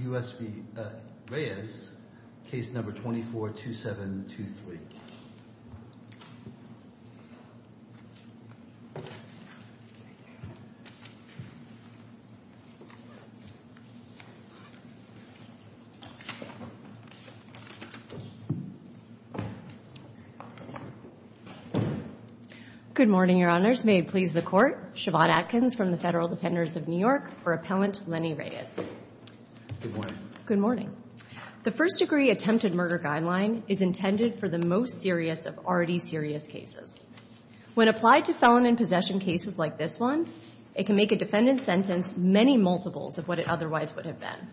, case number 242723. Good morning, Your Honors. May it please the Court. I'm going to turn it over to Mr. Shavon Atkins from the Federal Defenders of New York for Appellant Lenny Reyes. Good morning. Good morning. The First Degree Attempted Murder Guideline is intended for the most serious of already serious cases. When applied to felon and possession cases like this one, it can make a defendant's sentence many multiples of what it otherwise would have been.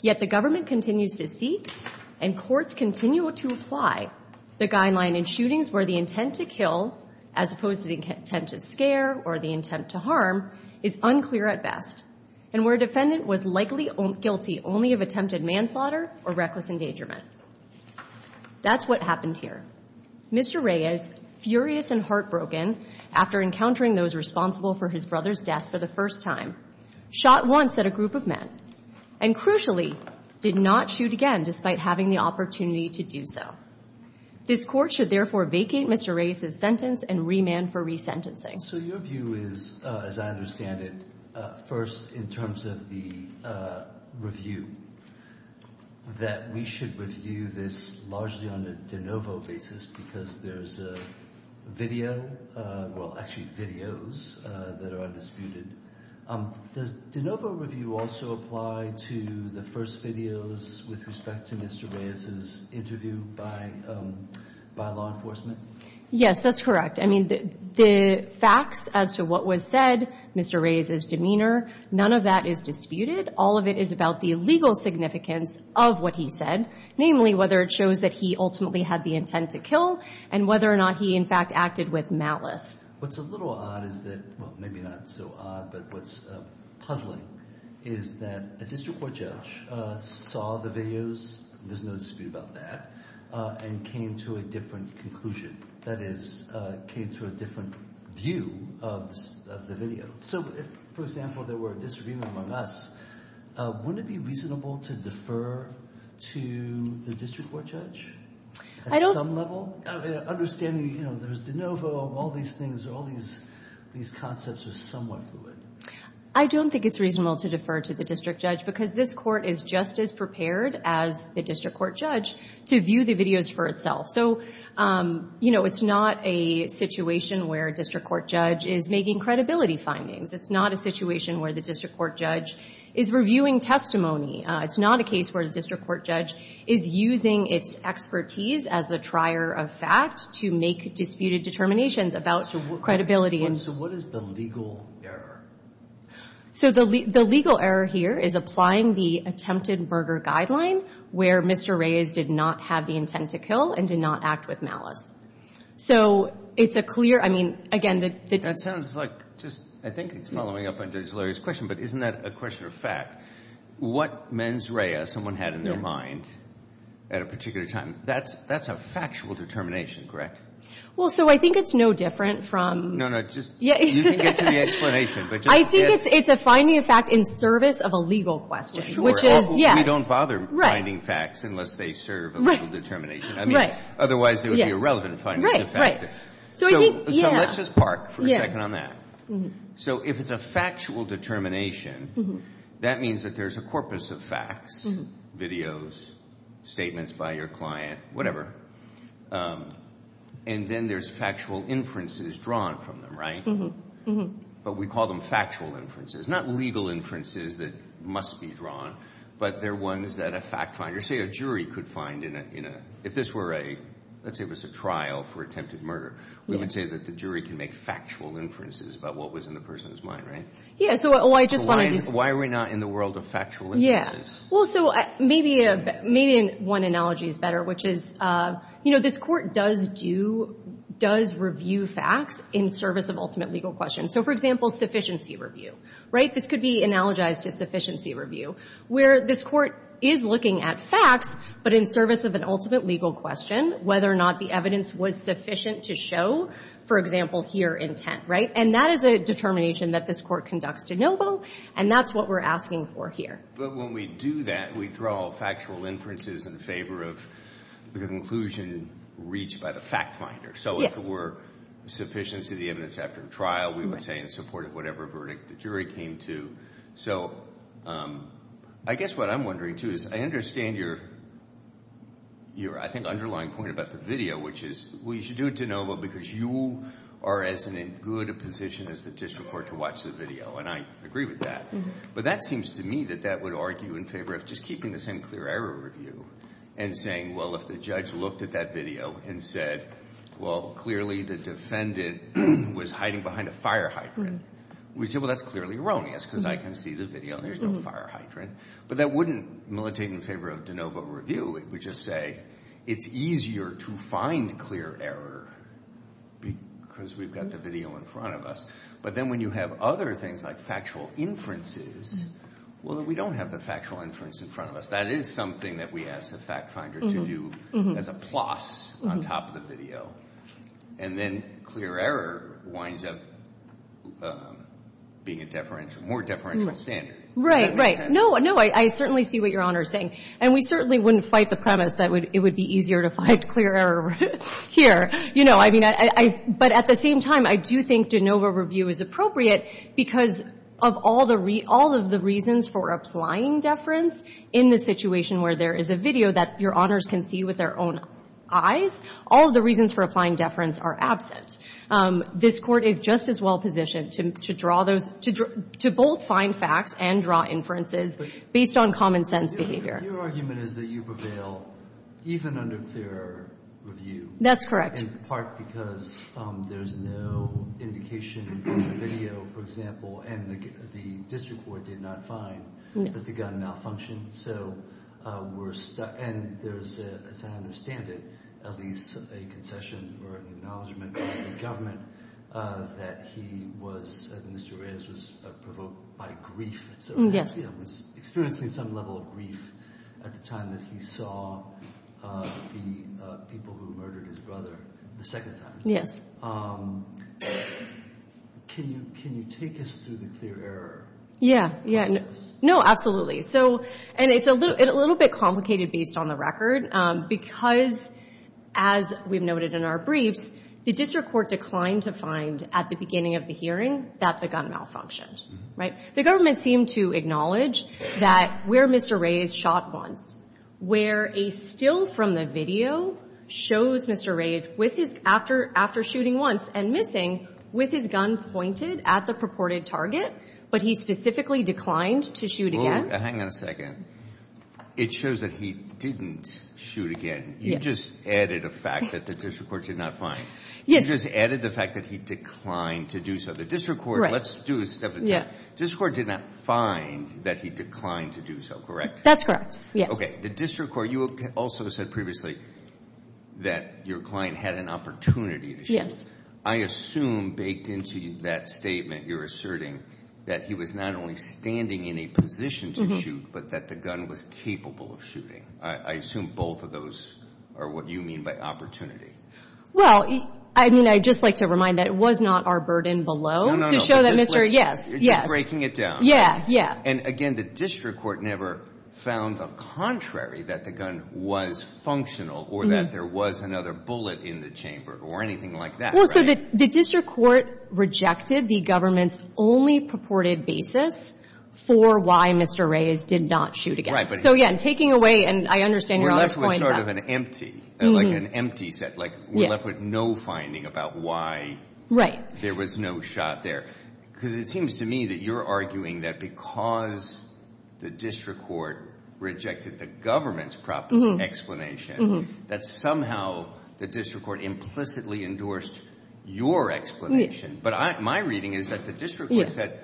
Yet the government continues to seek and courts continue to apply the guideline in shootings where the intent to kill, as opposed to the intent to scare or the intent to harm, is unclear at best and where a defendant was likely guilty only of attempted manslaughter or reckless endangerment. That's what happened here. Mr. Reyes, furious and heartbroken after encountering those responsible for his brother's death for the first time, shot once at a group of men and, crucially, did not shoot again despite having the opportunity to do so. This court should therefore vacate Mr. Reyes's sentence and remand for resentencing. So your view is, as I understand it, first in terms of the review, that we should review this largely on a de novo basis because there's a video, well, actually videos that are undisputed. Does de novo review also apply to the first videos with respect to Mr. Reyes's interview by law enforcement? Yes, that's correct. I mean, the facts as to what was said, Mr. Reyes's demeanor, none of that is disputed. All of it is about the legal significance of what he said, namely whether it shows that he ultimately had the intent to kill and whether or not he, in fact, acted with malice. What's a little odd is that, well, maybe not so odd, but what's puzzling is that a district court judge saw the videos, there's no dispute about that, and came to a different conclusion. That is, came to a different view of the video. So if, for example, there were a disagreement among us, wouldn't it be reasonable to defer to the district court judge at some level? Understanding, you know, there's de novo, all these things, all these concepts are somewhat fluid. I don't think it's reasonable to defer to the district judge because this court is just as prepared as the district court judge to view the videos for itself. So, you know, it's not a situation where a district court judge is making credibility findings. It's not a situation where the district court judge is reviewing testimony. It's not a case where the district court judge is using its expertise as the trier of facts to make disputed determinations about credibility. And so what is the legal error? So the legal error here is applying the attempted murder guideline where Mr. Reyes did not have the intent to kill and did not act with malice. So it's a clear, I mean, again, the... That sounds like, just, I think it's following up on Judge Larry's question, but isn't that a question of fact? What mens rea someone had in their mind at a particular time, that's a factual determination, correct? Well, so I think it's no different from... No, no, just, you can get to the explanation, but just... I think it's a finding of fact in service of a legal question, which is, yeah. Sure, we don't bother finding facts unless they serve a legal determination. I mean, otherwise there would be irrelevant findings of fact. So let's just park for a second on that. So if it's a factual determination, that means that there's a corpus of facts, videos, statements by your client, whatever. And then there's factual inferences drawn from them, right? But we call them factual inferences, not legal inferences that must be drawn, but they're ones that a fact finder, say a jury could find in a... If this were a, let's say it was a trial for attempted murder, we would say that the jury can make factual inferences about what was in the person's mind, right? Yeah, so I just wanted to... Why are we not in the world of factual inferences? Well, so maybe one analogy is better, which is, you know, this court does review facts in service of ultimate legal questions. So for example, sufficiency review, right? This could be analogized to sufficiency review, where this court is looking at facts, but in service of an ultimate legal question, whether or not the evidence was sufficient to show, for example, here intent, right? And that is a determination that this court conducts de novo, and that's what we're asking for here. But when we do that, we draw factual inferences in favor of the conclusion reached by the fact finder. Yes. So if it were sufficient to the evidence after the trial, we would say in support of whatever verdict the jury came to. So I guess what I'm wondering too is, I understand your, I think, underlying point about the video, which is, well, you should do it de novo because you are as in a good position as the district court to watch the video, and I agree with that. But that seems to me that that would argue in favor of just keeping the same clear error review and saying, well, if the judge looked at that video and said, well, clearly the defendant was hiding behind a fire hydrant, we'd say, well, that's clearly erroneous because I can see the video and there's no fire hydrant. But that wouldn't take in favor of de novo review, it would just say it's easier to find clear error because we've got the video in front of us. But then when you have other things like factual inferences, well, then we don't have the factual inference in front of us. That is something that we ask the fact finder to do as a plus on top of the video. And then clear error winds up being a deferential, more deferential standard. Does that make sense? Right, right. No, no, I certainly see what Your Honor is saying. And we certainly wouldn't fight the premise that it would be easier to find clear error here. You know, I mean, I, I, but at the same time, I do think de novo review is appropriate because of all the re, all of the reasons for applying deference in the situation where there is a video that Your Honors can see with their own eyes, all of the reasons for applying deference are absent. This Court is just as well positioned to, to draw those, to, to both find facts and draw inferences based on common sense behavior. Your argument is that you prevail even under clear review. That's correct. In part because there's no indication in the video, for example, and the, the district court did not find that the gun malfunctioned. So we're, and there's, as I understand it, at least a concession or an acknowledgment by the government that he was, that Mr. Reyes was provoked by grief. Yes. Experiencing some level of grief at the time that he saw the people who murdered his brother the second time. Can you, can you take us through the clear error process? Yeah. Yeah. No, absolutely. So, and it's a little, a little bit complicated based on the record because as we've noted in our briefs, the district court declined to find at the beginning of the hearing that the gun malfunctioned. Right? The government seemed to acknowledge that where Mr. Reyes shot once, where a still from the video shows Mr. Reyes with his, after, after shooting once and missing with his gun pointed at the purported target, but he specifically declined to shoot again. Hang on a second. It shows that he didn't shoot again. You just added a fact that the district court did not find. Yes. You just added the fact that he declined to do so. The district court, let's do a step at a time, district court did not find that he declined to do so. Correct? That's correct. Yes. Okay. The district court, you also said previously that your client had an opportunity to shoot. Yes. I assume baked into that statement, you're asserting that he was not only standing in a position to shoot, but that the gun was capable of shooting. I assume both of those are what you mean by opportunity. Well, I mean, I just like to remind that it was not our burden below to show that Mr. No, no, no. Yes. You're just breaking it down. Yeah. Yeah. Yeah. Yeah. And again, the district court never found the contrary that the gun was functional or that there was another bullet in the chamber or anything like that. Well, so the district court rejected the government's only purported basis for why Mr. Reyes did not shoot again. Right. So, yeah. And taking away, and I understand Your Honor's point. We're left with sort of an empty, like an empty set, like we're left with no finding about why there was no shot there. Right. Because it seems to me that you're arguing that because the district court rejected the government's proper explanation, that somehow the district court implicitly endorsed your explanation. But my reading is that the district court said,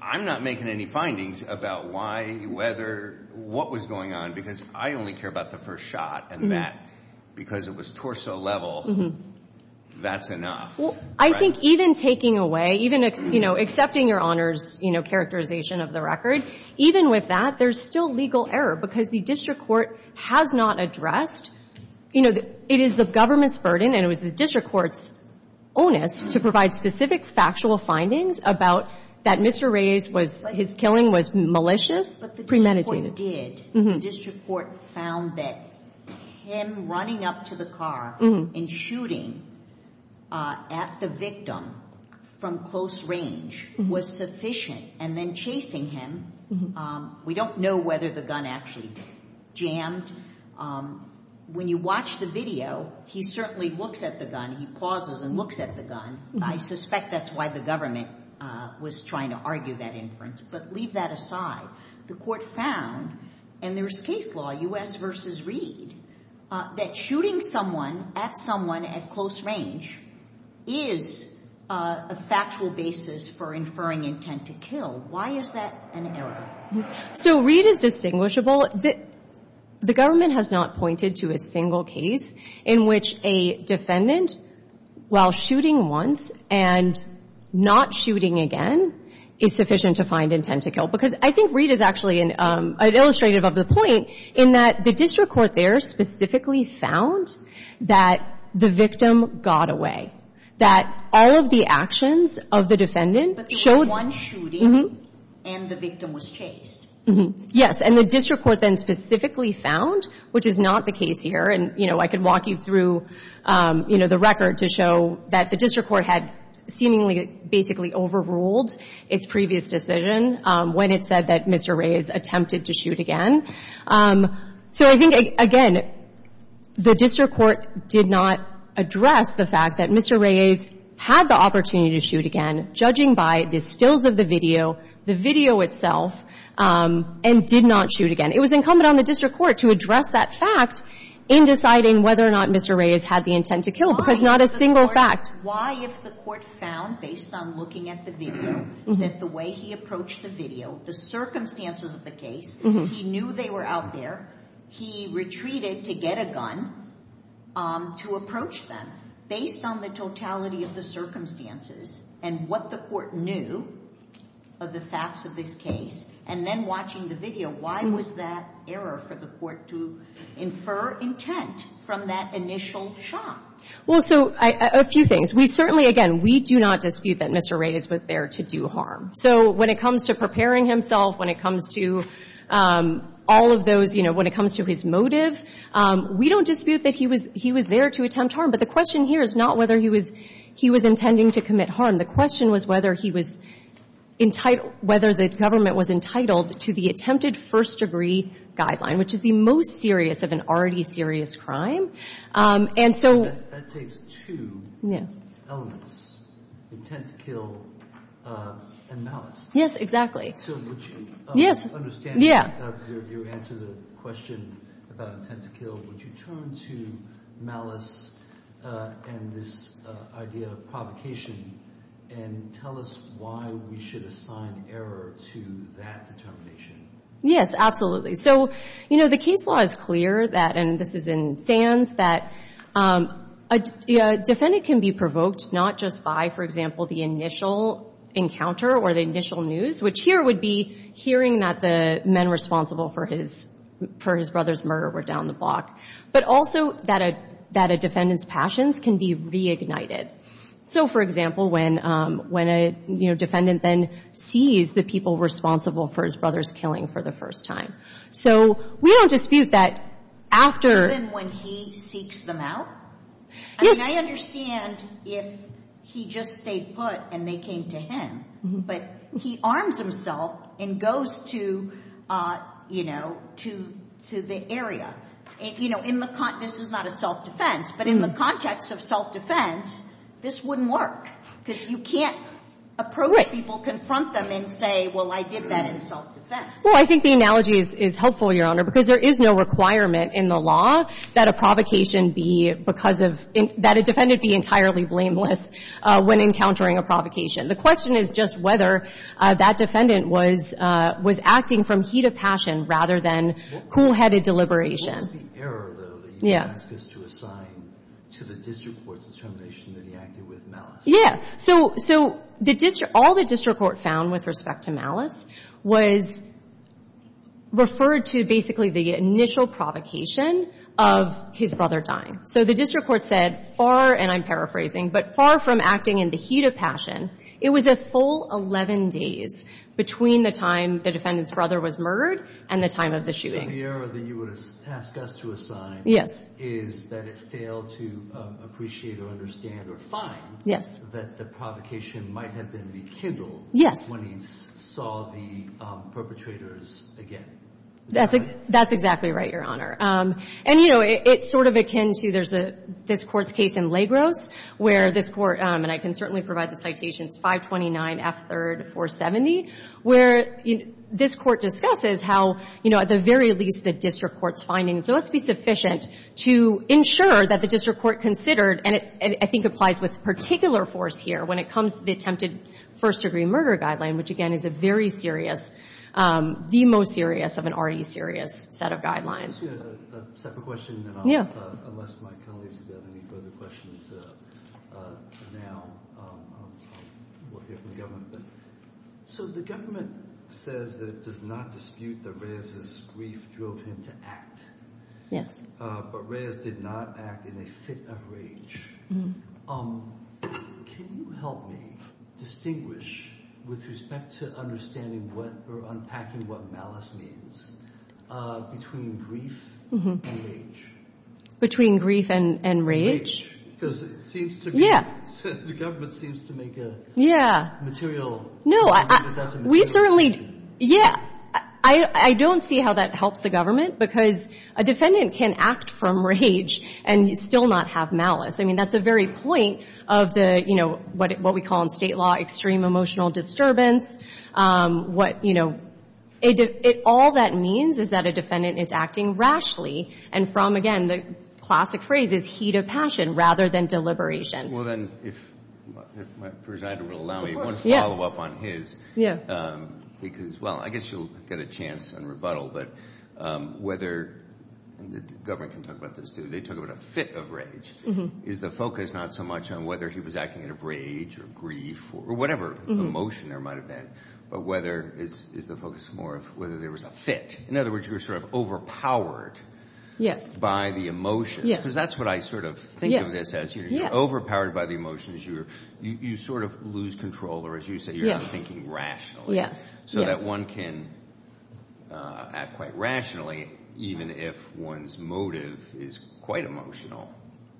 I'm not making any findings about why, whether, what was going on, because I only care about the first shot and that because it was torso level, that's enough. Well, I think even taking away, even, you know, accepting Your Honor's, you know, characterization of the record, even with that, there's still legal error because the district court has not addressed, you know, it is the government's burden and it was the district court's onus to provide specific factual findings about that Mr. Reyes was, his killing was malicious. But the district court did. The district court found that him running up to the car and shooting at the victim from close range was sufficient and then chasing him. We don't know whether the gun actually jammed. When you watch the video, he certainly looks at the gun, he pauses and looks at the gun. I suspect that's why the government was trying to argue that inference, but leave that aside. The court found, and there's case law, U.S. versus Reed, that shooting someone at someone at close range is a factual basis for inferring intent to kill. Why is that an error? So Reed is distinguishable. The government has not pointed to a single case in which a defendant, while shooting once and not shooting again, is sufficient to find intent to kill. Because I think Reed is actually an illustrative of the point in that the district court there specifically found that the victim got away, that all of the actions of the defendant showed. But there was one shooting and the victim was chased. Yes. And the district court then specifically found, which is not the case here, and, you know, I could walk you through, you know, the record to show that the district court had seemingly basically overruled its previous decision when it said that Mr. Reyes attempted to shoot again. So I think, again, the district court did not address the fact that Mr. Reyes had the opportunity to shoot again, judging by the stills of the video, the video itself, and did not shoot again. It was incumbent on the district court to address that fact in deciding whether or not Mr. Reyes had the intent to kill, because not a single fact. Why if the court found, based on looking at the video, that the way he approached the video, the circumstances of the case, he knew they were out there, he retreated to get a gun to approach them, based on the totality of the circumstances and what the court knew of the facts of this case, and then watching the video, why was that error for the court to infer intent from that initial shot? Well, so a few things. We certainly, again, we do not dispute that Mr. Reyes was there to do harm. So when it comes to preparing himself, when it comes to all of those, you know, when it comes to his motive, we don't dispute that he was there to attempt harm, but the question here is not whether he was intending to commit harm. The question was whether he was entitled, whether the government was entitled to the attempted first-degree guideline, which is the most serious of an already serious crime. And so— That takes two elements, intent to kill and malice. Yes, exactly. So would you— Yes. —understand— Yeah. —your answer to the question about intent to kill, would you turn to malice and this idea of provocation and tell us why we should assign error to that determination? Yes, absolutely. So, you know, the case law is clear that, and this is in Sands, that a defendant can be provoked not just by, for example, the initial encounter or the initial news, which here would be hearing that the men responsible for his brother's murder were down the block, but also that a defendant's passions can be reignited. So, for example, when a defendant then sees the people responsible for his brother's killing for the first time. So we don't dispute that after— Even when he seeks them out? Yes. I mean, I understand if he just stayed put and they came to him, but he arms himself and goes to, you know, to the area. You know, in the—this is not a self-defense, but in the context of self-defense, this wouldn't work because you can't approach people, confront them and say, well, I did that in self-defense. Well, I think the analogy is helpful, Your Honor, because there is no requirement in the law that a provocation be because of—that a defendant be entirely blameless when encountering a provocation. The question is just whether that defendant was acting from heat of passion rather than cool-headed deliberation. What was the error, though, that you would ask us to assign to the district court's determination that he acted with malice? Yeah. So all the district court found with respect to malice was referred to basically the initial provocation of his brother dying. So the district court said far—and I'm paraphrasing—but far from acting in the heat of passion, it was a full 11 days between the time the defendant's brother was murdered and the time of the shooting. So the error that you would ask us to assign is that it failed to appreciate or understand or find that the provocation might have been rekindled when he saw the perpetrators again. That's exactly right, Your Honor. And, you know, it's sort of akin to—there's this Court's case in Lagros where this Court—and I can certainly provide the citations, 529 F. 3rd 470—where this Court discusses how, you know, at the very least the district court's to ensure that the district court considered—and it, I think, applies with particular force here when it comes to the attempted first-degree murder guideline, which, again, is a very serious—the most serious of an already serious set of guidelines. Just a second question, and I'll— Unless my colleagues have got any further questions now, we'll hear from the So the government says that it does not dispute that Reyes's grief drove him to act. Yes. But Reyes did not act in a fit of rage. Can you help me distinguish, with respect to understanding what—or unpacking what malice means, between grief and rage? Between grief and rage? Because it seems to be— Yeah. The government seems to make a material— No, we certainly—yeah, I don't see how that helps the government because a defendant can act from rage and still not have malice. I mean, that's the very point of the, you know, what we call in State law, extreme emotional disturbance. What, you know—all that means is that a defendant is acting rashly and from, again, the classic phrase is heat of passion rather than deliberation. Well, then, if my presiding will allow me, one follow-up on his. Yeah. Because, well, I guess you'll get a chance on rebuttal, but whether—and the government can talk about this, too—they talk about a fit of rage. Is the focus not so much on whether he was acting out of rage or grief or whatever emotion there might have been, but whether—is the focus more of whether there was a fit? In other words, you were sort of overpowered— Yes. —by the emotion. Yes. Because that's what I sort of think of this as. You're overpowered by the emotions. You sort of lose control, or as you say, you're not thinking rationally. Yes, yes. But one can act quite rationally even if one's motive is quite emotional,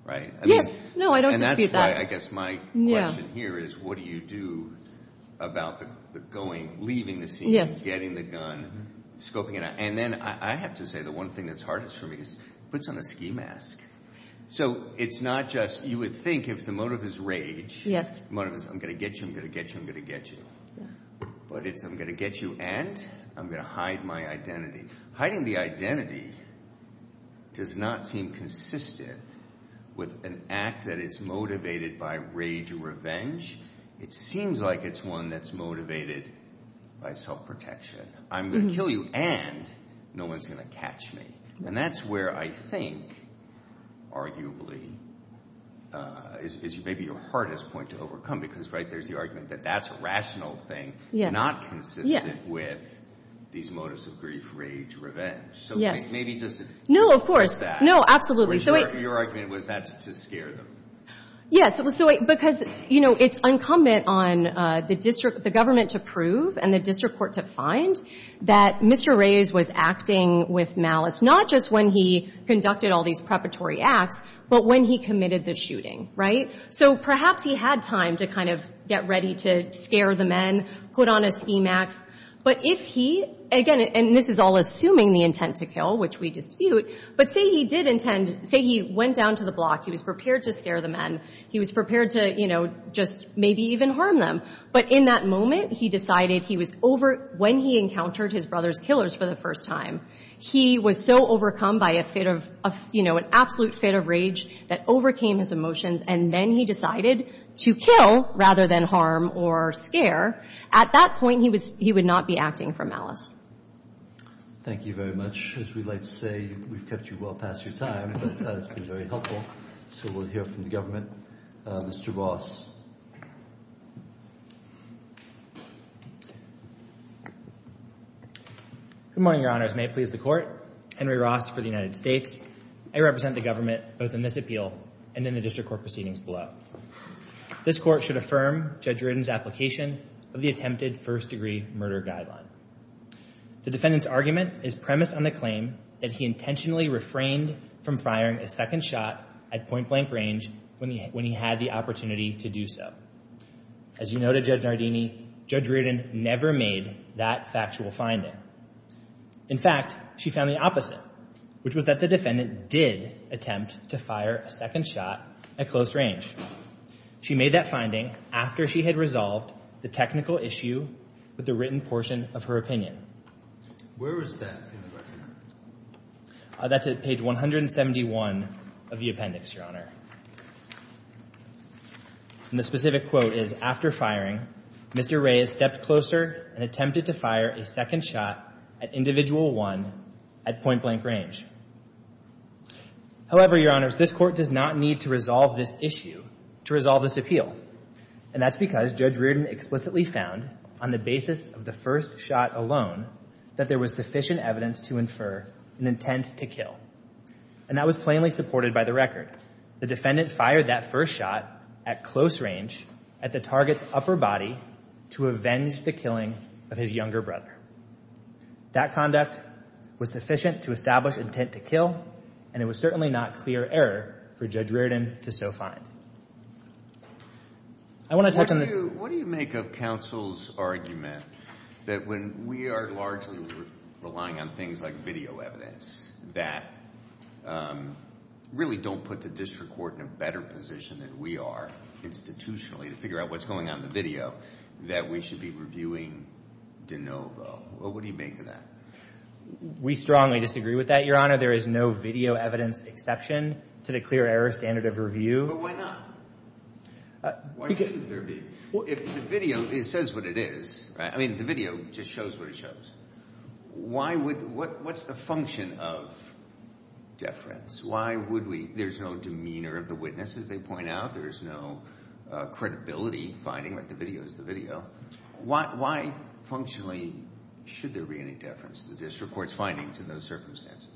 right? Yes. No, I don't dispute that. And that's why, I guess, my question here is what do you do about the going—leaving the scene— Yes. —getting the gun, scoping it out? And then I have to say the one thing that's hardest for me is puts on a ski mask. So it's not just—you would think if the motive is rage— Yes. —the motive is I'm going to get you, I'm going to get you, I'm going to get you. Yeah. But it's I'm going to get you and I'm going to hide my identity. Hiding the identity does not seem consistent with an act that is motivated by rage or revenge. It seems like it's one that's motivated by self-protection. I'm going to kill you and no one's going to catch me. And that's where I think arguably is maybe your hardest point to overcome because, right, that's a rational thing, not consistent with these motives of grief, rage, revenge. Yes. So maybe just— No, of course. No, absolutely. So your argument was that's to scare them. Yes. Because, you know, it's incumbent on the district—the government to prove and the district court to find that Mr. Reyes was acting with malice, not just when he conducted all these preparatory acts, but when he committed the shooting, right? So perhaps he had time to kind of get ready to scare the men, put on a scheme act. But if he—again, and this is all assuming the intent to kill, which we dispute, but say he did intend—say he went down to the block. He was prepared to scare the men. He was prepared to, you know, just maybe even harm them. But in that moment, he decided he was over—when he encountered his brother's killers for the first time, he was so overcome by a fit of—you know, an absolute fit of rage that overcame his emotions, and then he decided to kill rather than harm or scare. At that point, he was—he would not be acting for malice. Thank you very much. As we like to say, we've kept you well past your time, but that's been very helpful. So we'll hear from the government. Mr. Ross. Good morning, Your Honors. May it please the Court. Henry Ross for the United States. I represent the government both in this appeal and in the district court proceedings below. This court should affirm Judge Ridden's application of the attempted first-degree murder guideline. The defendant's argument is premised on the claim that he intentionally refrained from firing a second shot at point-blank range when he had the opportunity to do so. As you know to Judge Nardini, Judge Ridden never made that factual finding. In fact, she found the opposite, which was that the defendant did attempt to fire a second shot at close range. She made that finding after she had resolved the technical issue with the written portion of her opinion. Where was that in the record? That's at page 171 of the appendix, Your Honor. And the specific quote is, after firing, Mr. Ray has stepped closer and attempted to fire a second shot at individual one at point-blank range. However, Your Honors, this court does not need to resolve this issue to resolve this appeal, and that's because Judge Ridden explicitly found on the basis of the first shot alone that there was sufficient evidence to infer an intent to kill. And that was plainly supported by the record. In fact, the defendant fired that first shot at close range at the target's upper body to avenge the killing of his younger brother. That conduct was sufficient to establish intent to kill, and it was certainly not clear error for Judge Ridden to so find. What do you make of counsel's argument that when we are largely relying on things like video evidence that really don't put the district court in a better position than we are institutionally to figure out what's going on in the video, that we should be reviewing de novo? What do you make of that? We strongly disagree with that, Your Honor. There is no video evidence exception to the clear error standard of review. But why not? Why shouldn't there be? If the video says what it is, I mean, the video just shows what it shows. What's the function of deference? Why would we? There's no demeanor of the witness, as they point out. There's no credibility finding that the video is the video. Why functionally should there be any deference to the district court's findings in those circumstances?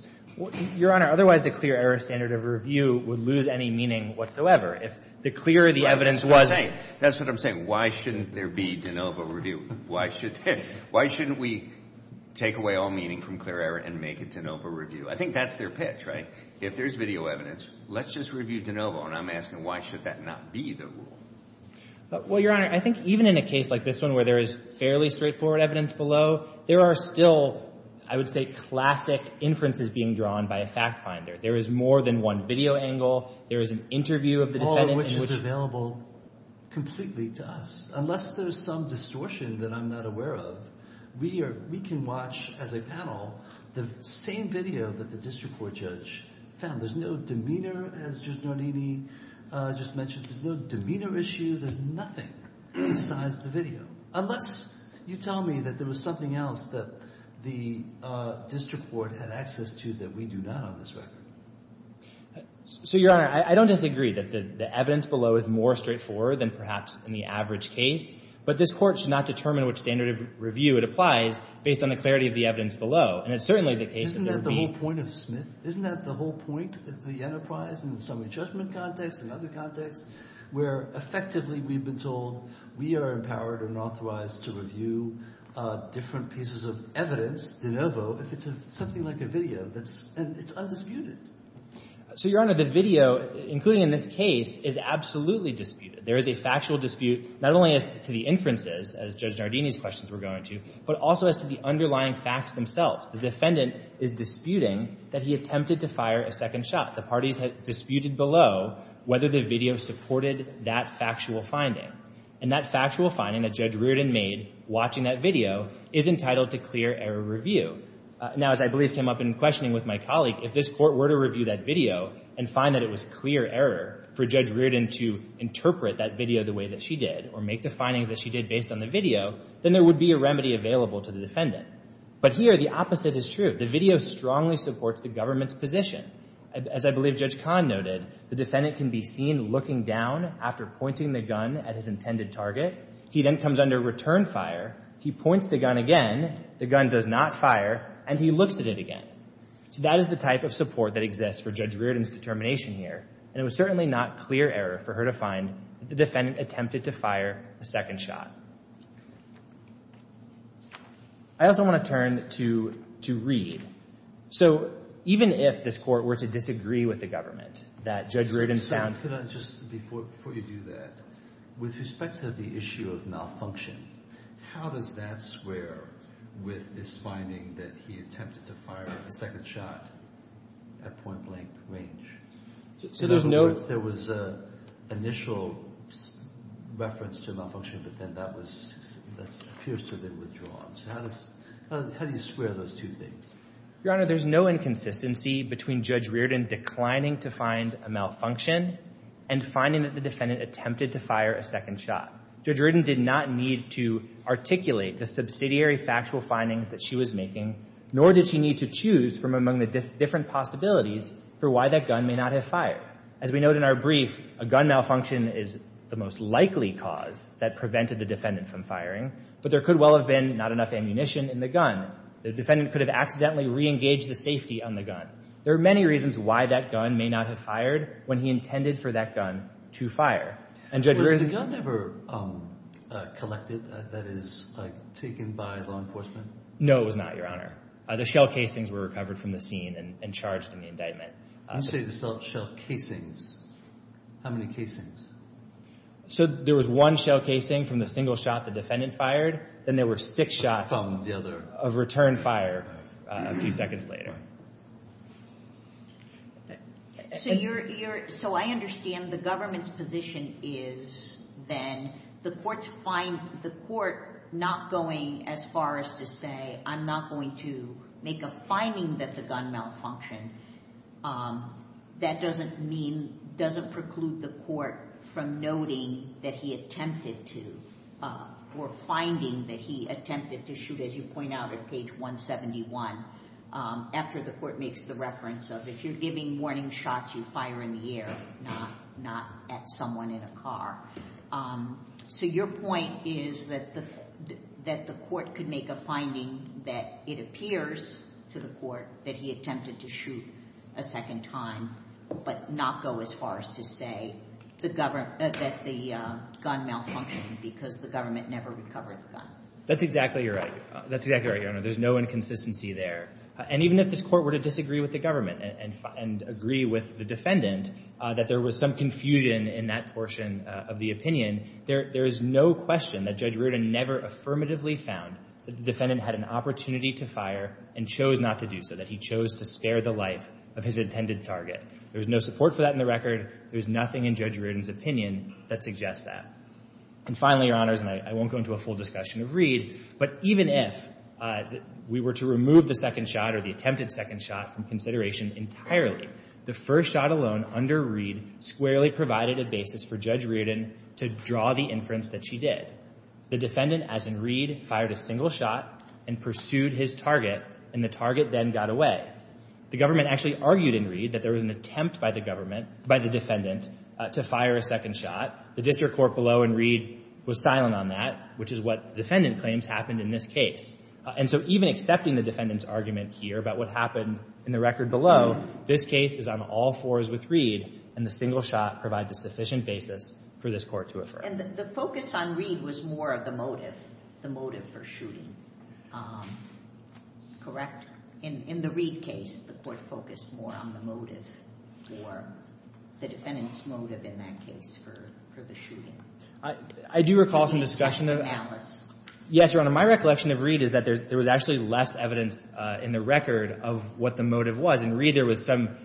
Your Honor, otherwise the clear error standard of review would lose any meaning whatsoever. If the clearer the evidence was— That's what I'm saying. That's what I'm saying. Why shouldn't there be de novo review? Why shouldn't we take away all meaning from clear error and make a de novo review? I think that's their pitch, right? If there's video evidence, let's just review de novo. And I'm asking why should that not be the rule? Well, Your Honor, I think even in a case like this one where there is fairly straightforward evidence below, there are still, I would say, classic inferences being drawn by a fact finder. There is more than one video angle. There is an interview of the defendant. All of which is available completely to us. Unless there's some distortion that I'm not aware of, we can watch as a panel the same video that the district court judge found. There's no demeanor, as Judge Nardini just mentioned. There's no demeanor issue. There's nothing besides the video. Unless you tell me that there was something else that the district court had access to that we do not on this record. So, Your Honor, I don't disagree that the evidence below is more straightforward than perhaps in the average case. But this court should not determine which standard of review it applies based on the clarity of the evidence below. And it's certainly the case that there would be— Isn't that the whole point of Smith? Isn't that the whole point of the enterprise in the summary judgment context and other contexts? Where effectively we've been told we are empowered and authorized to review different pieces of evidence de novo if it's something like a video and it's undisputed. So, Your Honor, the video, including in this case, is absolutely disputed. There is a factual dispute not only as to the inferences, as Judge Nardini's questions were going to, but also as to the underlying facts themselves. The defendant is disputing that he attempted to fire a second shot. The parties had disputed below whether the video supported that factual finding. And that factual finding that Judge Reardon made watching that video is entitled to clear error review. Now, as I believe came up in questioning with my colleague, if this court were to review that video and find that it was clear error for Judge Reardon to interpret that video the way that she did or make the findings that she did based on the video, then there would be a remedy available to the defendant. But here, the opposite is true. The video strongly supports the government's position. As I believe Judge Kahn noted, the defendant can be seen looking down after pointing the gun at his intended target. He then comes under return fire. He points the gun again. The gun does not fire. And he looks at it again. So that is the type of support that exists for Judge Reardon's determination here. And it was certainly not clear error for her to find that the defendant attempted to fire a second shot. I also want to turn to Reed. So even if this court were to disagree with the government that Judge Reardon found Can I just, before you do that, with respect to the issue of malfunction, how does that square with this finding that he attempted to fire a second shot at point-blank range? So there's no In other words, there was an initial reference to a malfunction, but then that was, that appears to have been withdrawn. So how do you square those two things? Your Honor, there's no inconsistency between Judge Reardon declining to find a malfunction and finding that the defendant attempted to fire a second shot. Judge Reardon did not need to articulate the subsidiary factual findings that she was making, nor did she need to choose from among the different possibilities for why that gun may not have fired. As we note in our brief, a gun malfunction is the most likely cause that prevented the defendant from firing. But there could well have been not enough ammunition in the gun. The defendant could have accidentally reengaged the safety on the gun. There are many reasons why that gun may not have fired when he intended for that gun to fire. And Judge Reardon Was the gun ever collected, that is, taken by law enforcement? No, it was not, Your Honor. The shell casings were recovered from the scene and charged in the indictment. You say the shell casings. How many casings? So there was one shell casing from the single shot the defendant fired. Then there were six shots of returned fire a few seconds later. So I understand the government's position is then the court not going as far as to say, I'm not going to make a finding that the gun malfunctioned. That doesn't preclude the court from noting that he attempted to or finding that he attempted to shoot, as you point out at page 171, after the court makes the reference of, if you're giving warning shots, you fire in the air, not at someone in a car. So your point is that the court could make a finding that it appears to the court that he attempted to shoot a second time but not go as far as to say that the gun malfunctioned because the government never recovered the gun. That's exactly right. That's exactly right, Your Honor. There's no inconsistency there. And even if this court were to disagree with the government and agree with the defendant that there was some confusion in that portion of the opinion, there is no question that Judge Reardon never affirmatively found that the defendant had an opportunity to fire and chose not to do so, that he chose to spare the life of his intended target. There's no support for that in the record. There's nothing in Judge Reardon's opinion that suggests that. And finally, Your Honors, and I won't go into a full discussion of Reed, but even if we were to remove the second shot or the attempted second shot from consideration entirely, the first shot alone under Reed squarely provided a basis for Judge Reardon to draw the inference that she did. The defendant, as in Reed, fired a single shot and pursued his target, and the target then got away. The government actually argued in Reed that there was an attempt by the government by the defendant to fire a second shot. The district court below in Reed was silent on that, which is what the defendant claims happened in this case. And so even accepting the defendant's argument here about what happened in the record below, this case is on all fours with Reed, and the single shot provides a sufficient basis for this court to affirm. And the focus on Reed was more of the motive, the motive for shooting, correct? In the Reed case, the court focused more on the motive or the defendant's motive in that case for the shooting. I do recall some discussion of that. Yes, Your Honor. My recollection of Reed is that there was actually less evidence in the record of what the motive was. In Reed, there was some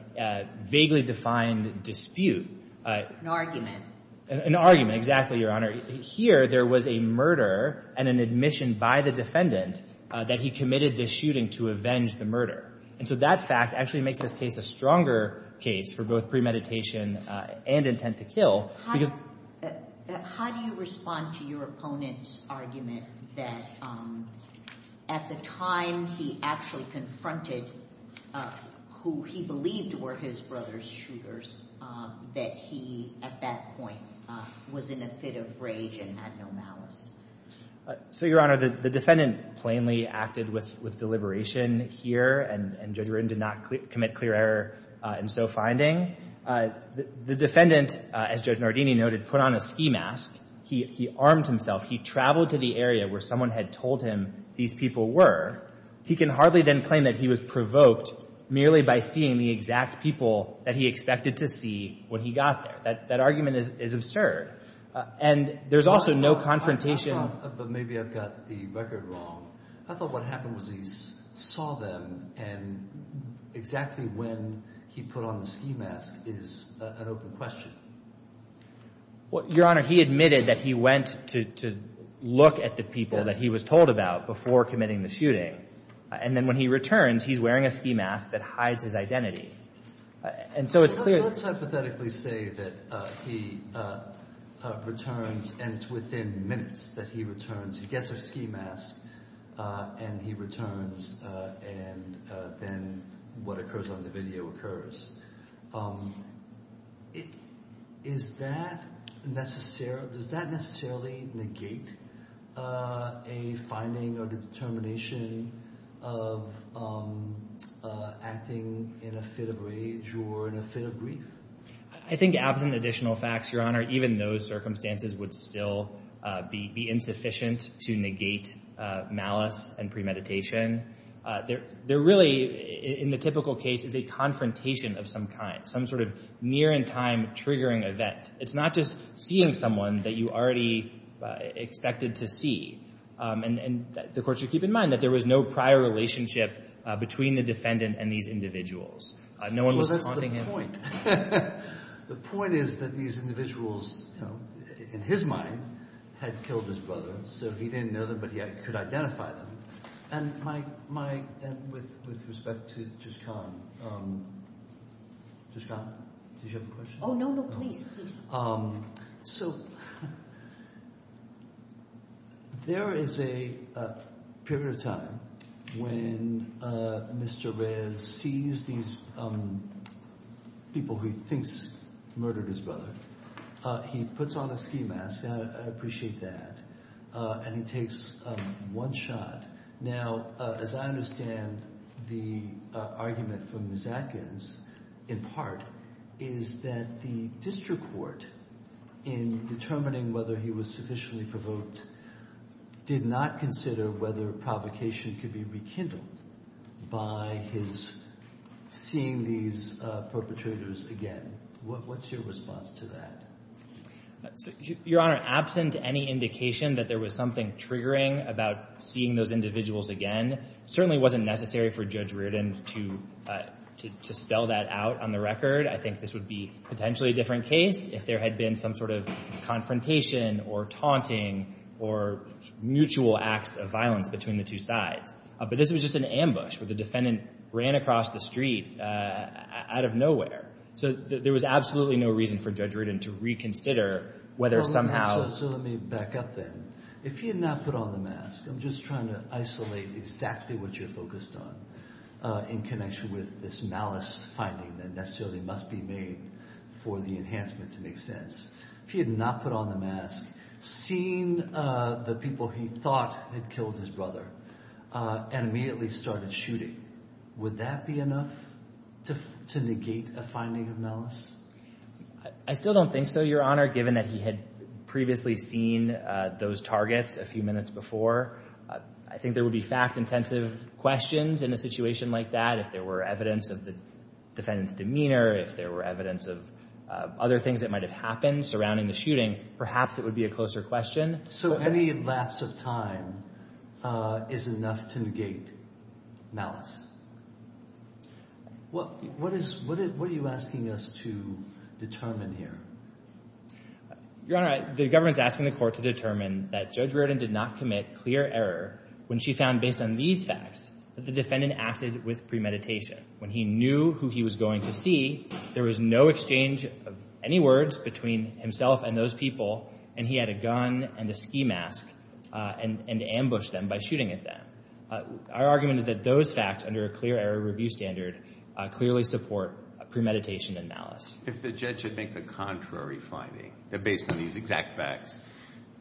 vaguely defined dispute. An argument. An argument, exactly, Your Honor. Here there was a murder and an admission by the defendant that he committed this shooting to avenge the murder. And so that fact actually makes this case a stronger case for both premeditation and intent to kill. How do you respond to your opponent's argument that at the time he actually confronted who he believed were his brother's shooters, that he at that point was in a fit of rage and had no malice? So, Your Honor, the defendant plainly acted with deliberation here, and Judge Rudin did not commit clear error in so finding. The defendant, as Judge Nardini noted, put on a ski mask. He armed himself. He traveled to the area where someone had told him these people were. He can hardly then claim that he was provoked merely by seeing the exact people that he expected to see when he got there. That argument is absurd. And there's also no confrontation. But maybe I've got the record wrong. I thought what happened was he saw them, and exactly when he put on the ski mask is an open question. Your Honor, he admitted that he went to look at the people that he was told about before committing the shooting. And then when he returns, he's wearing a ski mask that hides his identity. And so it's clear that Let's hypothetically say that he returns, and it's within minutes that he returns. He gets a ski mask, and he returns, and then what occurs on the video occurs. Does that necessarily negate a finding or determination of acting in a fit of rage or in a fit of grief? I think absent additional facts, Your Honor, even those circumstances would still be insufficient to negate malice and premeditation. They're really, in the typical case, a confrontation of some kind, some sort of near-in-time triggering event. It's not just seeing someone that you already expected to see. And the court should keep in mind that there was no prior relationship between the defendant and these individuals. No one was haunting him. Well, that's the point. The point is that these individuals, in his mind, had killed his brother, so he didn't know them, but he could identify them. And with respect to Jishkan, Jishkan, did you have a question? Oh, no, no, please, please. So there is a period of time when Mr. Rez sees these people who he thinks murdered his brother. He puts on a ski mask, and I appreciate that, and he takes one shot. Now, as I understand the argument from Ms. Atkins, in part, is that the district court, in determining whether he was sufficiently provoked, did not consider whether provocation could be rekindled by his seeing these perpetrators again. What's your response to that? Your Honor, absent any indication that there was something triggering about seeing those individuals again, it certainly wasn't necessary for Judge Reardon to spell that out on the record. I think this would be potentially a different case if there had been some sort of confrontation or taunting or mutual acts of violence between the two sides. But this was just an ambush where the defendant ran across the street out of nowhere. So there was absolutely no reason for Judge Reardon to reconsider whether somehow— So let me back up then. If he had not put on the mask, I'm just trying to isolate exactly what you're focused on in connection with this malice finding that necessarily must be made for the enhancement to make sense. If he had not put on the mask, seen the people he thought had killed his brother, and immediately started shooting, would that be enough to negate a finding of malice? I still don't think so, Your Honor, given that he had previously seen those targets a few minutes before. I think there would be fact-intensive questions in a situation like that. If there were evidence of the defendant's demeanor, if there were evidence of other things that might have happened surrounding the shooting, perhaps it would be a closer question. So any lapse of time is enough to negate malice. What are you asking us to determine here? Your Honor, the government is asking the court to determine that Judge Reardon did not commit clear error when she found, based on these facts, that the defendant acted with premeditation. When he knew who he was going to see, there was no exchange of any words between himself and those people, and he had a gun and a ski mask and ambushed them by shooting at them. Our argument is that those facts, under a clear error review standard, clearly support premeditation and malice. If the judge should make the contrary finding, that based on these exact facts,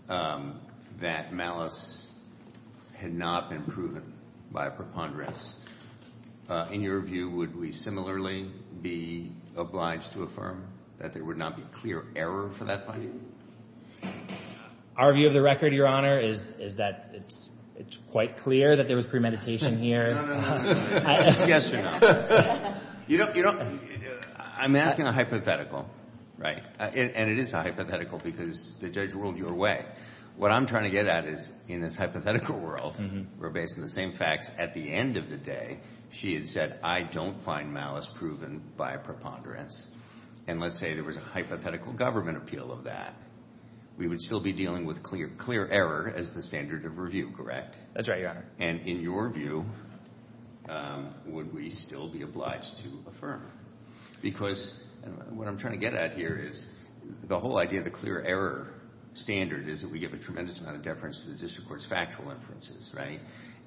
that malice had not been proven by preponderance, in your view, would we similarly be obliged to affirm that there would not be clear error for that finding? Our view of the record, Your Honor, is that it's quite clear that there was premeditation here. No, no, no. Yes or no? I'm asking a hypothetical, right? And it is a hypothetical because the judge ruled your way. What I'm trying to get at is, in this hypothetical world, where based on the same facts, at the end of the day, she had said, I don't find malice proven by preponderance. And let's say there was a hypothetical government appeal of that. We would still be dealing with clear error as the standard of review, correct? That's right, Your Honor. And in your view, would we still be obliged to affirm? Because what I'm trying to get at here is, the whole idea of the clear error standard is that we give a tremendous amount of deference to the district court's factual inferences, right?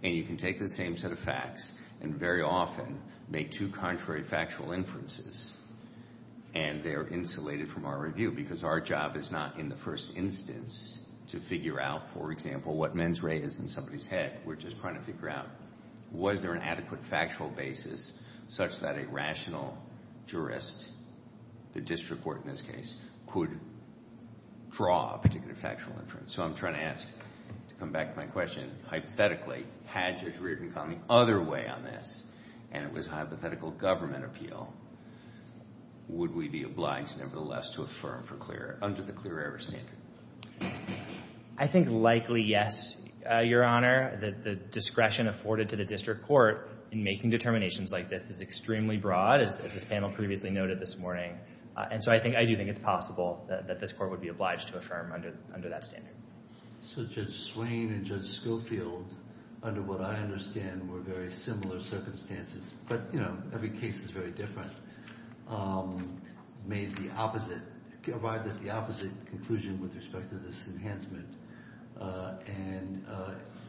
And you can take the same set of facts and very often make two contrary factual inferences, and they're insulated from our review because our job is not, in the first instance, to figure out, for example, what mens rea is in somebody's head. We're just trying to figure out, was there an adequate factual basis such that a rational jurist, the district court in this case, could draw a particular factual inference? So I'm trying to ask, to come back to my question, hypothetically, had Judge Reardon gone the other way on this, and it was a hypothetical government appeal, would we be obliged, nevertheless, to affirm for clear error, under the clear error standard? I think likely yes, Your Honor. The discretion afforded to the district court in making determinations like this is extremely broad. As this panel previously noted this morning. And so I do think it's possible that this court would be obliged to affirm under that standard. So Judge Swain and Judge Schofield, under what I understand were very similar circumstances, but, you know, every case is very different, made the opposite, arrived at the opposite conclusion with respect to this enhancement. And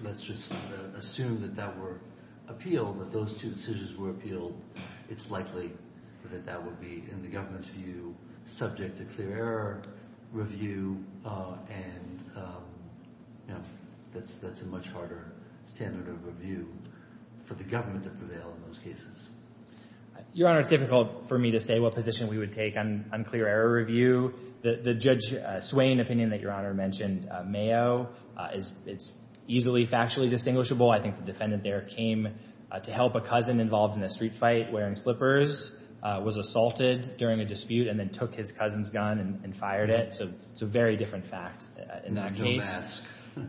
let's just assume that that were appealed, that those two decisions were appealed, it's likely that that would be, in the government's view, subject to clear error review. And, you know, that's a much harder standard of review for the government to prevail in those cases. Your Honor, it's difficult for me to say what position we would take on clear error review. The Judge Swain opinion that Your Honor mentioned, Mayo, is easily factually distinguishable. I think the defendant there came to help a cousin involved in a street fight wearing slippers, was assaulted during a dispute, and then took his cousin's gun and fired it. So it's a very different fact in that case.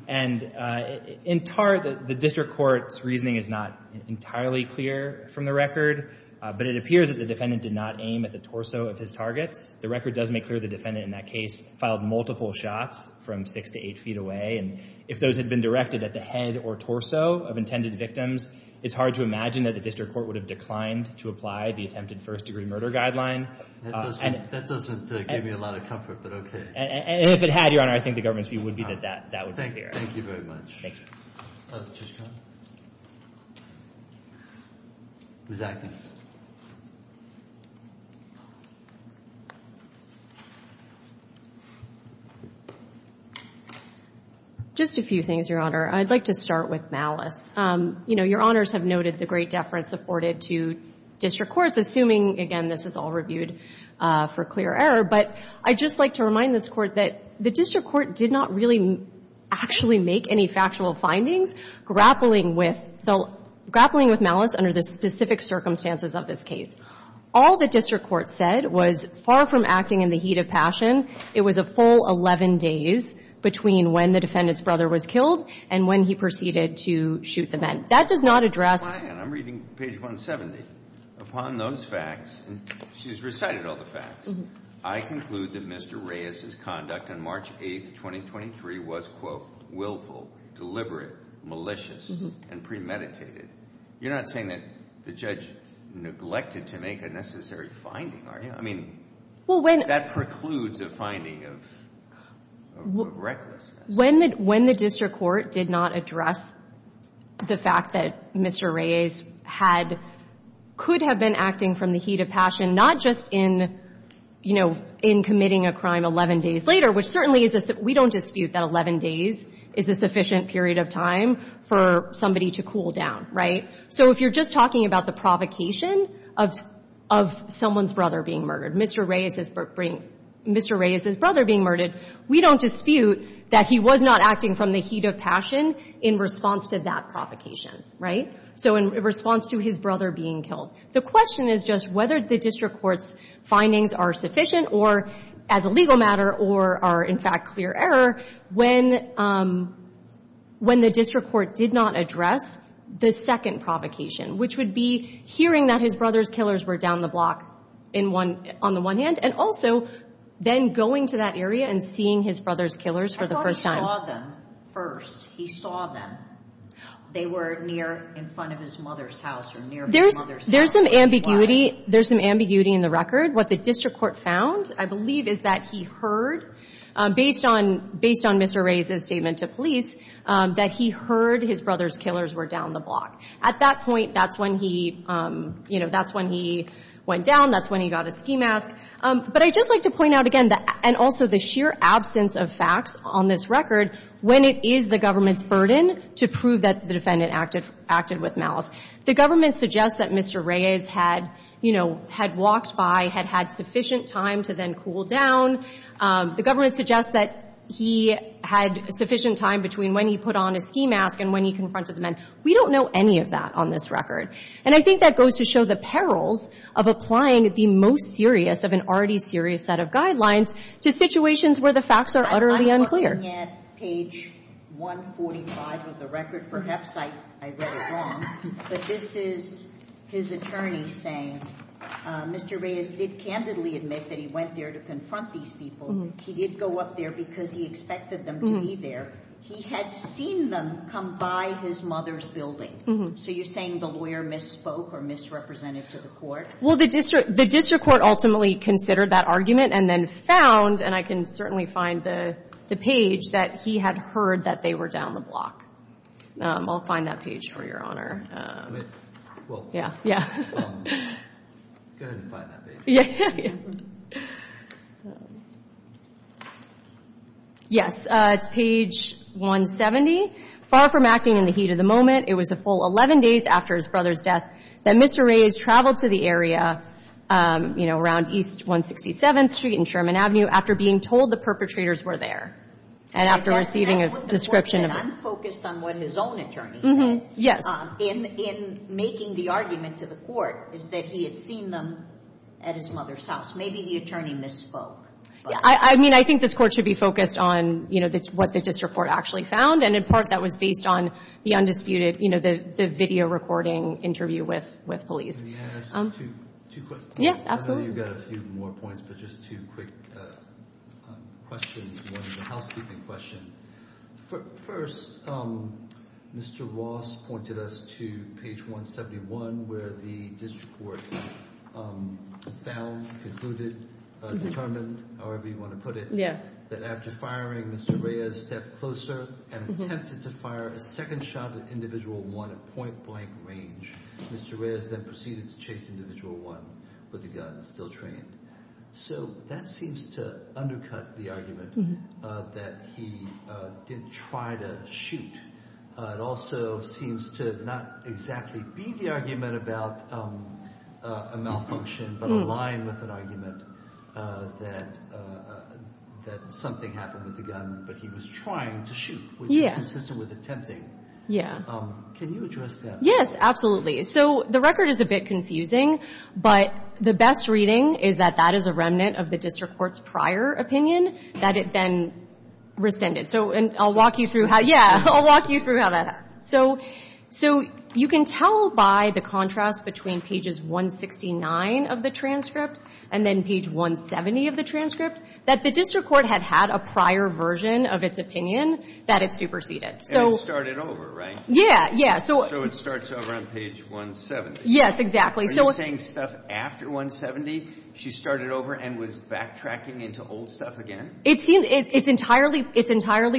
And the district court's reasoning is not entirely clear from the record. But it appears that the defendant did not aim at the torso of his targets. The record does make clear the defendant in that case filed multiple shots from six to eight feet away. And if those had been directed at the head or torso of intended victims, it's hard to imagine that the district court would have declined to apply the attempted first-degree murder guideline. That doesn't give me a lot of comfort, but okay. And if it had, Your Honor, I think the government's view would be that that would be clear. Thank you very much. Thank you. Ms. Atkins. Just a few things, Your Honor. I'd like to start with malice. You know, Your Honors have noted the great deference afforded to district courts, assuming, again, this is all reviewed for clear error. But I'd just like to remind this Court that the district court did not really actually make any factual findings grappling with malice under the specific circumstances of this case. All the district court said was, far from acting in the heat of passion, it was a full 11 days between when the defendant's brother was killed and when he proceeded to shoot the men. That does not address the facts. I'm reading page 170. Upon those facts, and she's recited all the facts, I conclude that Mr. Reyes's conduct on March 8, 2023, was, quote, willful, deliberate, malicious, and premeditated. You're not saying that the judge neglected to make a necessary finding, are you? I mean, that precludes a finding of recklessness. When the district court did not address the fact that Mr. Reyes could have been acting from the heat of passion, not just in committing a crime 11 days later, which certainly we don't dispute that 11 days is a sufficient period of time for somebody to cool down, right? So if you're just talking about the provocation of someone's brother being murdered, Mr. Reyes's brother being murdered, we don't dispute that he was not acting from the heat of passion in response to that provocation, right? So in response to his brother being killed. The question is just whether the district court's findings are sufficient or, as a legal matter, or are, in fact, clear error when the district court did not address the second provocation, which would be hearing that his brother's killers were down the block on the one hand, and also then going to that area and seeing his brother's killers for the first time. I thought he saw them first. He saw them. They were near in front of his mother's house or nearby his mother's house. There's some ambiguity. There's some ambiguity in the record. What the district court found, I believe, is that he heard, based on Mr. Reyes's statement to police, that he heard his brother's killers were down the block. At that point, that's when he, you know, that's when he went down. That's when he got his ski mask. But I'd just like to point out again, and also the sheer absence of facts on this record, when it is the government's burden to prove that the defendant acted with malice. The government suggests that Mr. Reyes had, you know, had walked by, had had sufficient time to then cool down. The government suggests that he had sufficient time between when he put on his ski mask and when he confronted the men. We don't know any of that on this record. And I think that goes to show the perils of applying the most serious of an already serious set of guidelines to situations where the facts are utterly unclear. I'm looking at page 145 of the record. Perhaps I read it wrong, but this is his attorney saying Mr. Reyes did candidly admit that he went there to confront these people. He did go up there because he expected them to be there. He had seen them come by his mother's building. So you're saying the lawyer misspoke or misrepresented to the court? Well, the district court ultimately considered that argument and then found, and I can certainly find the page, that he had heard that they were down the block. I'll find that page for Your Honor. Well, go ahead and find that page. Yes. It's page 170. Far from acting in the heat of the moment, it was a full 11 days after his brother's death that Mr. Reyes traveled to the area around East 167th Street and Sherman Avenue after being told the perpetrators were there and after receiving a description of it. I'm focused on what his own attorney said. Yes. In making the argument to the court is that he had seen them at his mother's Maybe the attorney misspoke. I mean, I think this Court should be focused on, you know, what the district court actually found, and in part that was based on the undisputed, you know, the video recording interview with police. Can I ask two quick questions? Yes, absolutely. I know you've got a few more points, but just two quick questions. One is a housekeeping question. First, Mr. Ross pointed us to page 171 where the district court found, concluded, determined, however you want to put it, that after firing, Mr. Reyes stepped closer and attempted to fire a second shot at individual one at point blank range. Mr. Reyes then proceeded to chase individual one with the gun, still trained. So that seems to undercut the argument that he did try to shoot. It also seems to not exactly be the argument about a malfunction, but align with an argument that something happened with the gun, but he was trying to shoot, which is consistent with attempting. Yeah. Can you address that? Yes, absolutely. So the record is a bit confusing, but the best reading is that that is a remnant of the district court's prior opinion that it then rescinded. So and I'll walk you through how, yeah, I'll walk you through how that happened. So you can tell by the contrast between pages 169 of the transcript and then page 170 of the transcript that the district court had had a prior version of its opinion that it superseded. And it started over, right? Yeah, yeah. So it starts over on page 170. Yes, exactly. Are you saying stuff after 170, she started over and was backtracking into old stuff again? It seems it's entirely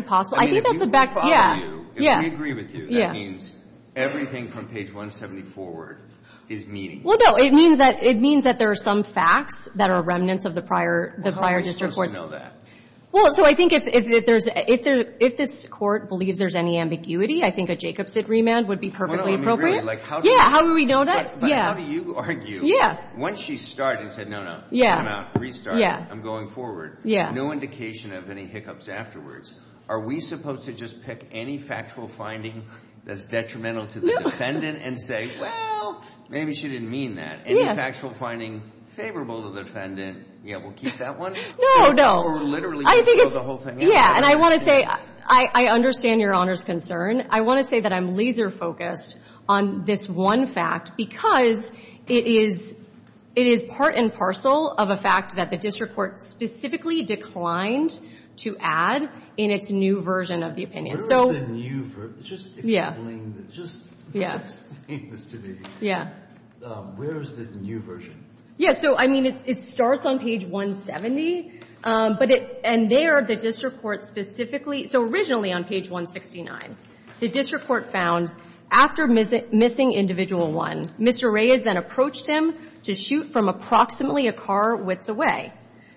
possible. I think that's the back. I mean, if we follow you, if we agree with you, that means everything from page 170 forward is meaning. Well, no. It means that there are some facts that are remnants of the prior district courts. Well, how are we supposed to know that? Well, so I think if this Court believes there's any ambiguity, I think a Jacobs exit remand would be perfectly appropriate. Yeah, how do we know that? But how do you argue that once she started and said, no, no, I'm out, restart, I'm going forward, no indication of any hiccups afterwards. Are we supposed to just pick any factual finding that's detrimental to the defendant and say, well, maybe she didn't mean that? Any factual finding favorable to the defendant, yeah, we'll keep that one? No, no. Or we're literally going to close the whole thing out? Yeah, and I want to say I understand Your Honor's concern. I want to say that I'm laser-focused on this one fact because it is part and parcel of a fact that the district court specifically declined to add in its new version of the opinion. Where is the new version? Just explain. Yeah. Just explain this to me. Yeah. Where is this new version? Yeah. So, I mean, it starts on page 170, and there the district court specifically so originally on page 169, the district court found after missing individual one, Mr. Reyes then approached him to shoot from approximately a car-width away.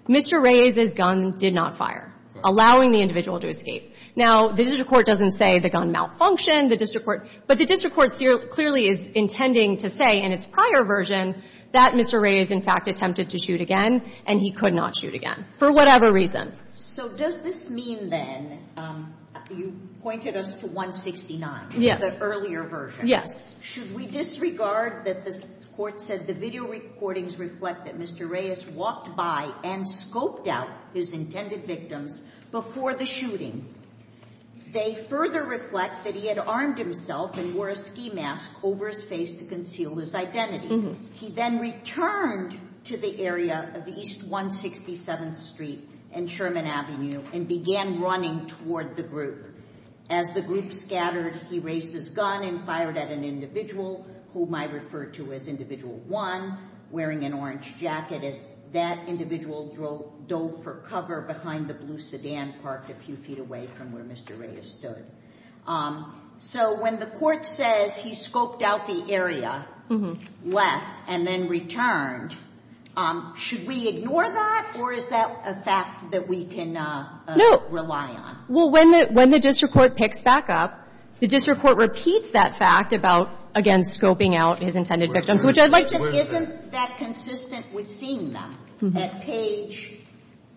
Mr. Reyes' gun did not fire, allowing the individual to escape. Now, the district court doesn't say the gun malfunctioned, the district court but the district court clearly is intending to say in its prior version that Mr. Reyes in fact attempted to shoot again and he could not shoot again for whatever reason. So does this mean then, you pointed us to 169, the earlier version. Yes. Should we disregard that the court said the video recordings reflect that Mr. Reyes walked by and scoped out his intended victims before the shooting? They further reflect that he had armed himself and wore a ski mask over his face to conceal his identity. He then returned to the area of East 167th Street and Sherman Avenue and began running toward the group. As the group scattered, he raised his gun and fired at an individual whom I refer to as individual one, wearing an orange jacket as that individual dove for cover behind the blue sedan parked a few feet away from where Mr. Reyes stood. So when the court says he scoped out the area, left, and then returned, should we ignore that or is that a fact that we can rely on? Well, when the district court picks back up, the district court repeats that fact about, again, scoping out his intended victims, which I'd like to clear that. Isn't that consistent with seeing them at page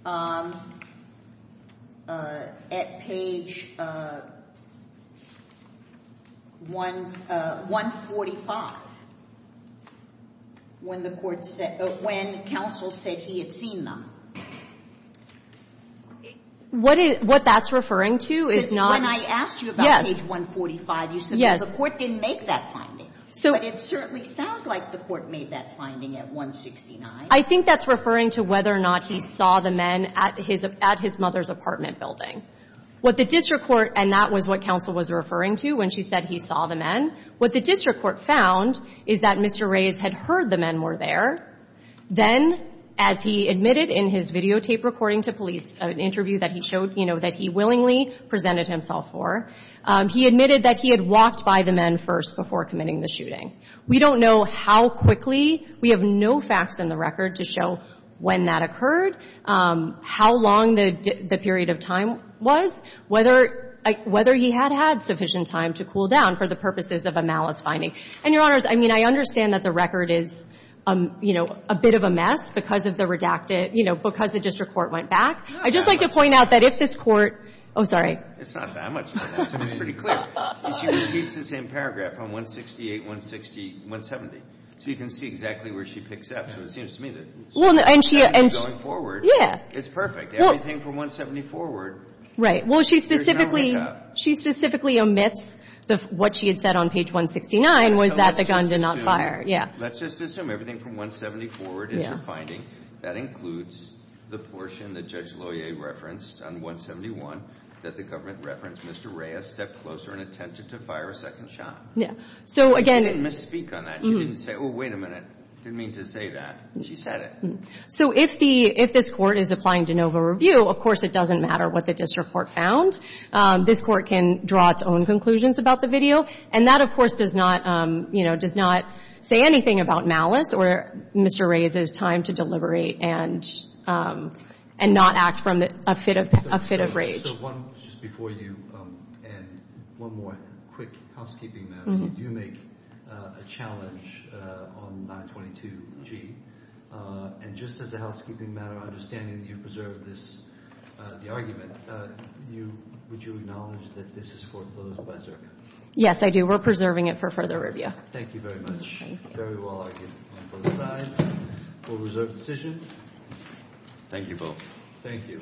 145 when counsel said he had seen them? What that's referring to is not – Because when I asked you about page 145, you said the court didn't make that finding. But it certainly sounds like the court made that finding at 169. I think that's referring to whether or not he saw the men at his mother's apartment building. What the district court – and that was what counsel was referring to when she said he saw the men. What the district court found is that Mr. Reyes had heard the men were there. Then, as he admitted in his videotape recording to police, an interview that he showed that he willingly presented himself for, he admitted that he had walked by the men first before committing the shooting. We don't know how quickly. We have no facts in the record to show when that occurred, how long the period of time was, whether he had had sufficient time to cool down for the purposes of a malice finding. And, Your Honors, I mean, I understand that the record is, you know, a bit of a mess because of the redacted – you know, because the district court went back. I'd just like to point out that if this court – oh, sorry. It's not that much of a mess. It's pretty clear. She repeats the same paragraph on 168, 160, 170. So you can see exactly where she picks up. So it seems to me that she's going forward. It's perfect. Everything from 170 forward. Right. Well, she specifically – she specifically omits what she had said on page 169, was that the gun did not fire. Yeah. Let's just assume everything from 170 forward is her finding. That includes the portion that Judge Loyer referenced on 171 that the government referenced. Mr. Reyes stepped closer and attempted to fire a second shot. So, again – She didn't misspeak on that. She didn't say, oh, wait a minute. Didn't mean to say that. She said it. So if the – if this Court is applying de novo review, of course, it doesn't matter what the district court found. This Court can draw its own conclusions about the video. And that, of course, does not – you know, does not say anything about malice or Mr. Reyes's time to deliberate and not act from a fit of – a fit of rage. So one – just before you end, one more quick housekeeping matter. You do make a challenge on 922G. And just as a housekeeping matter, understanding that you preserved this – the argument, you – would you acknowledge that this is foreclosed by Zerka? Yes, I do. We're preserving it for further review. Thank you very much. Thank you. Very well argued on both sides. We'll reserve the decision. Thank you both. Thank you.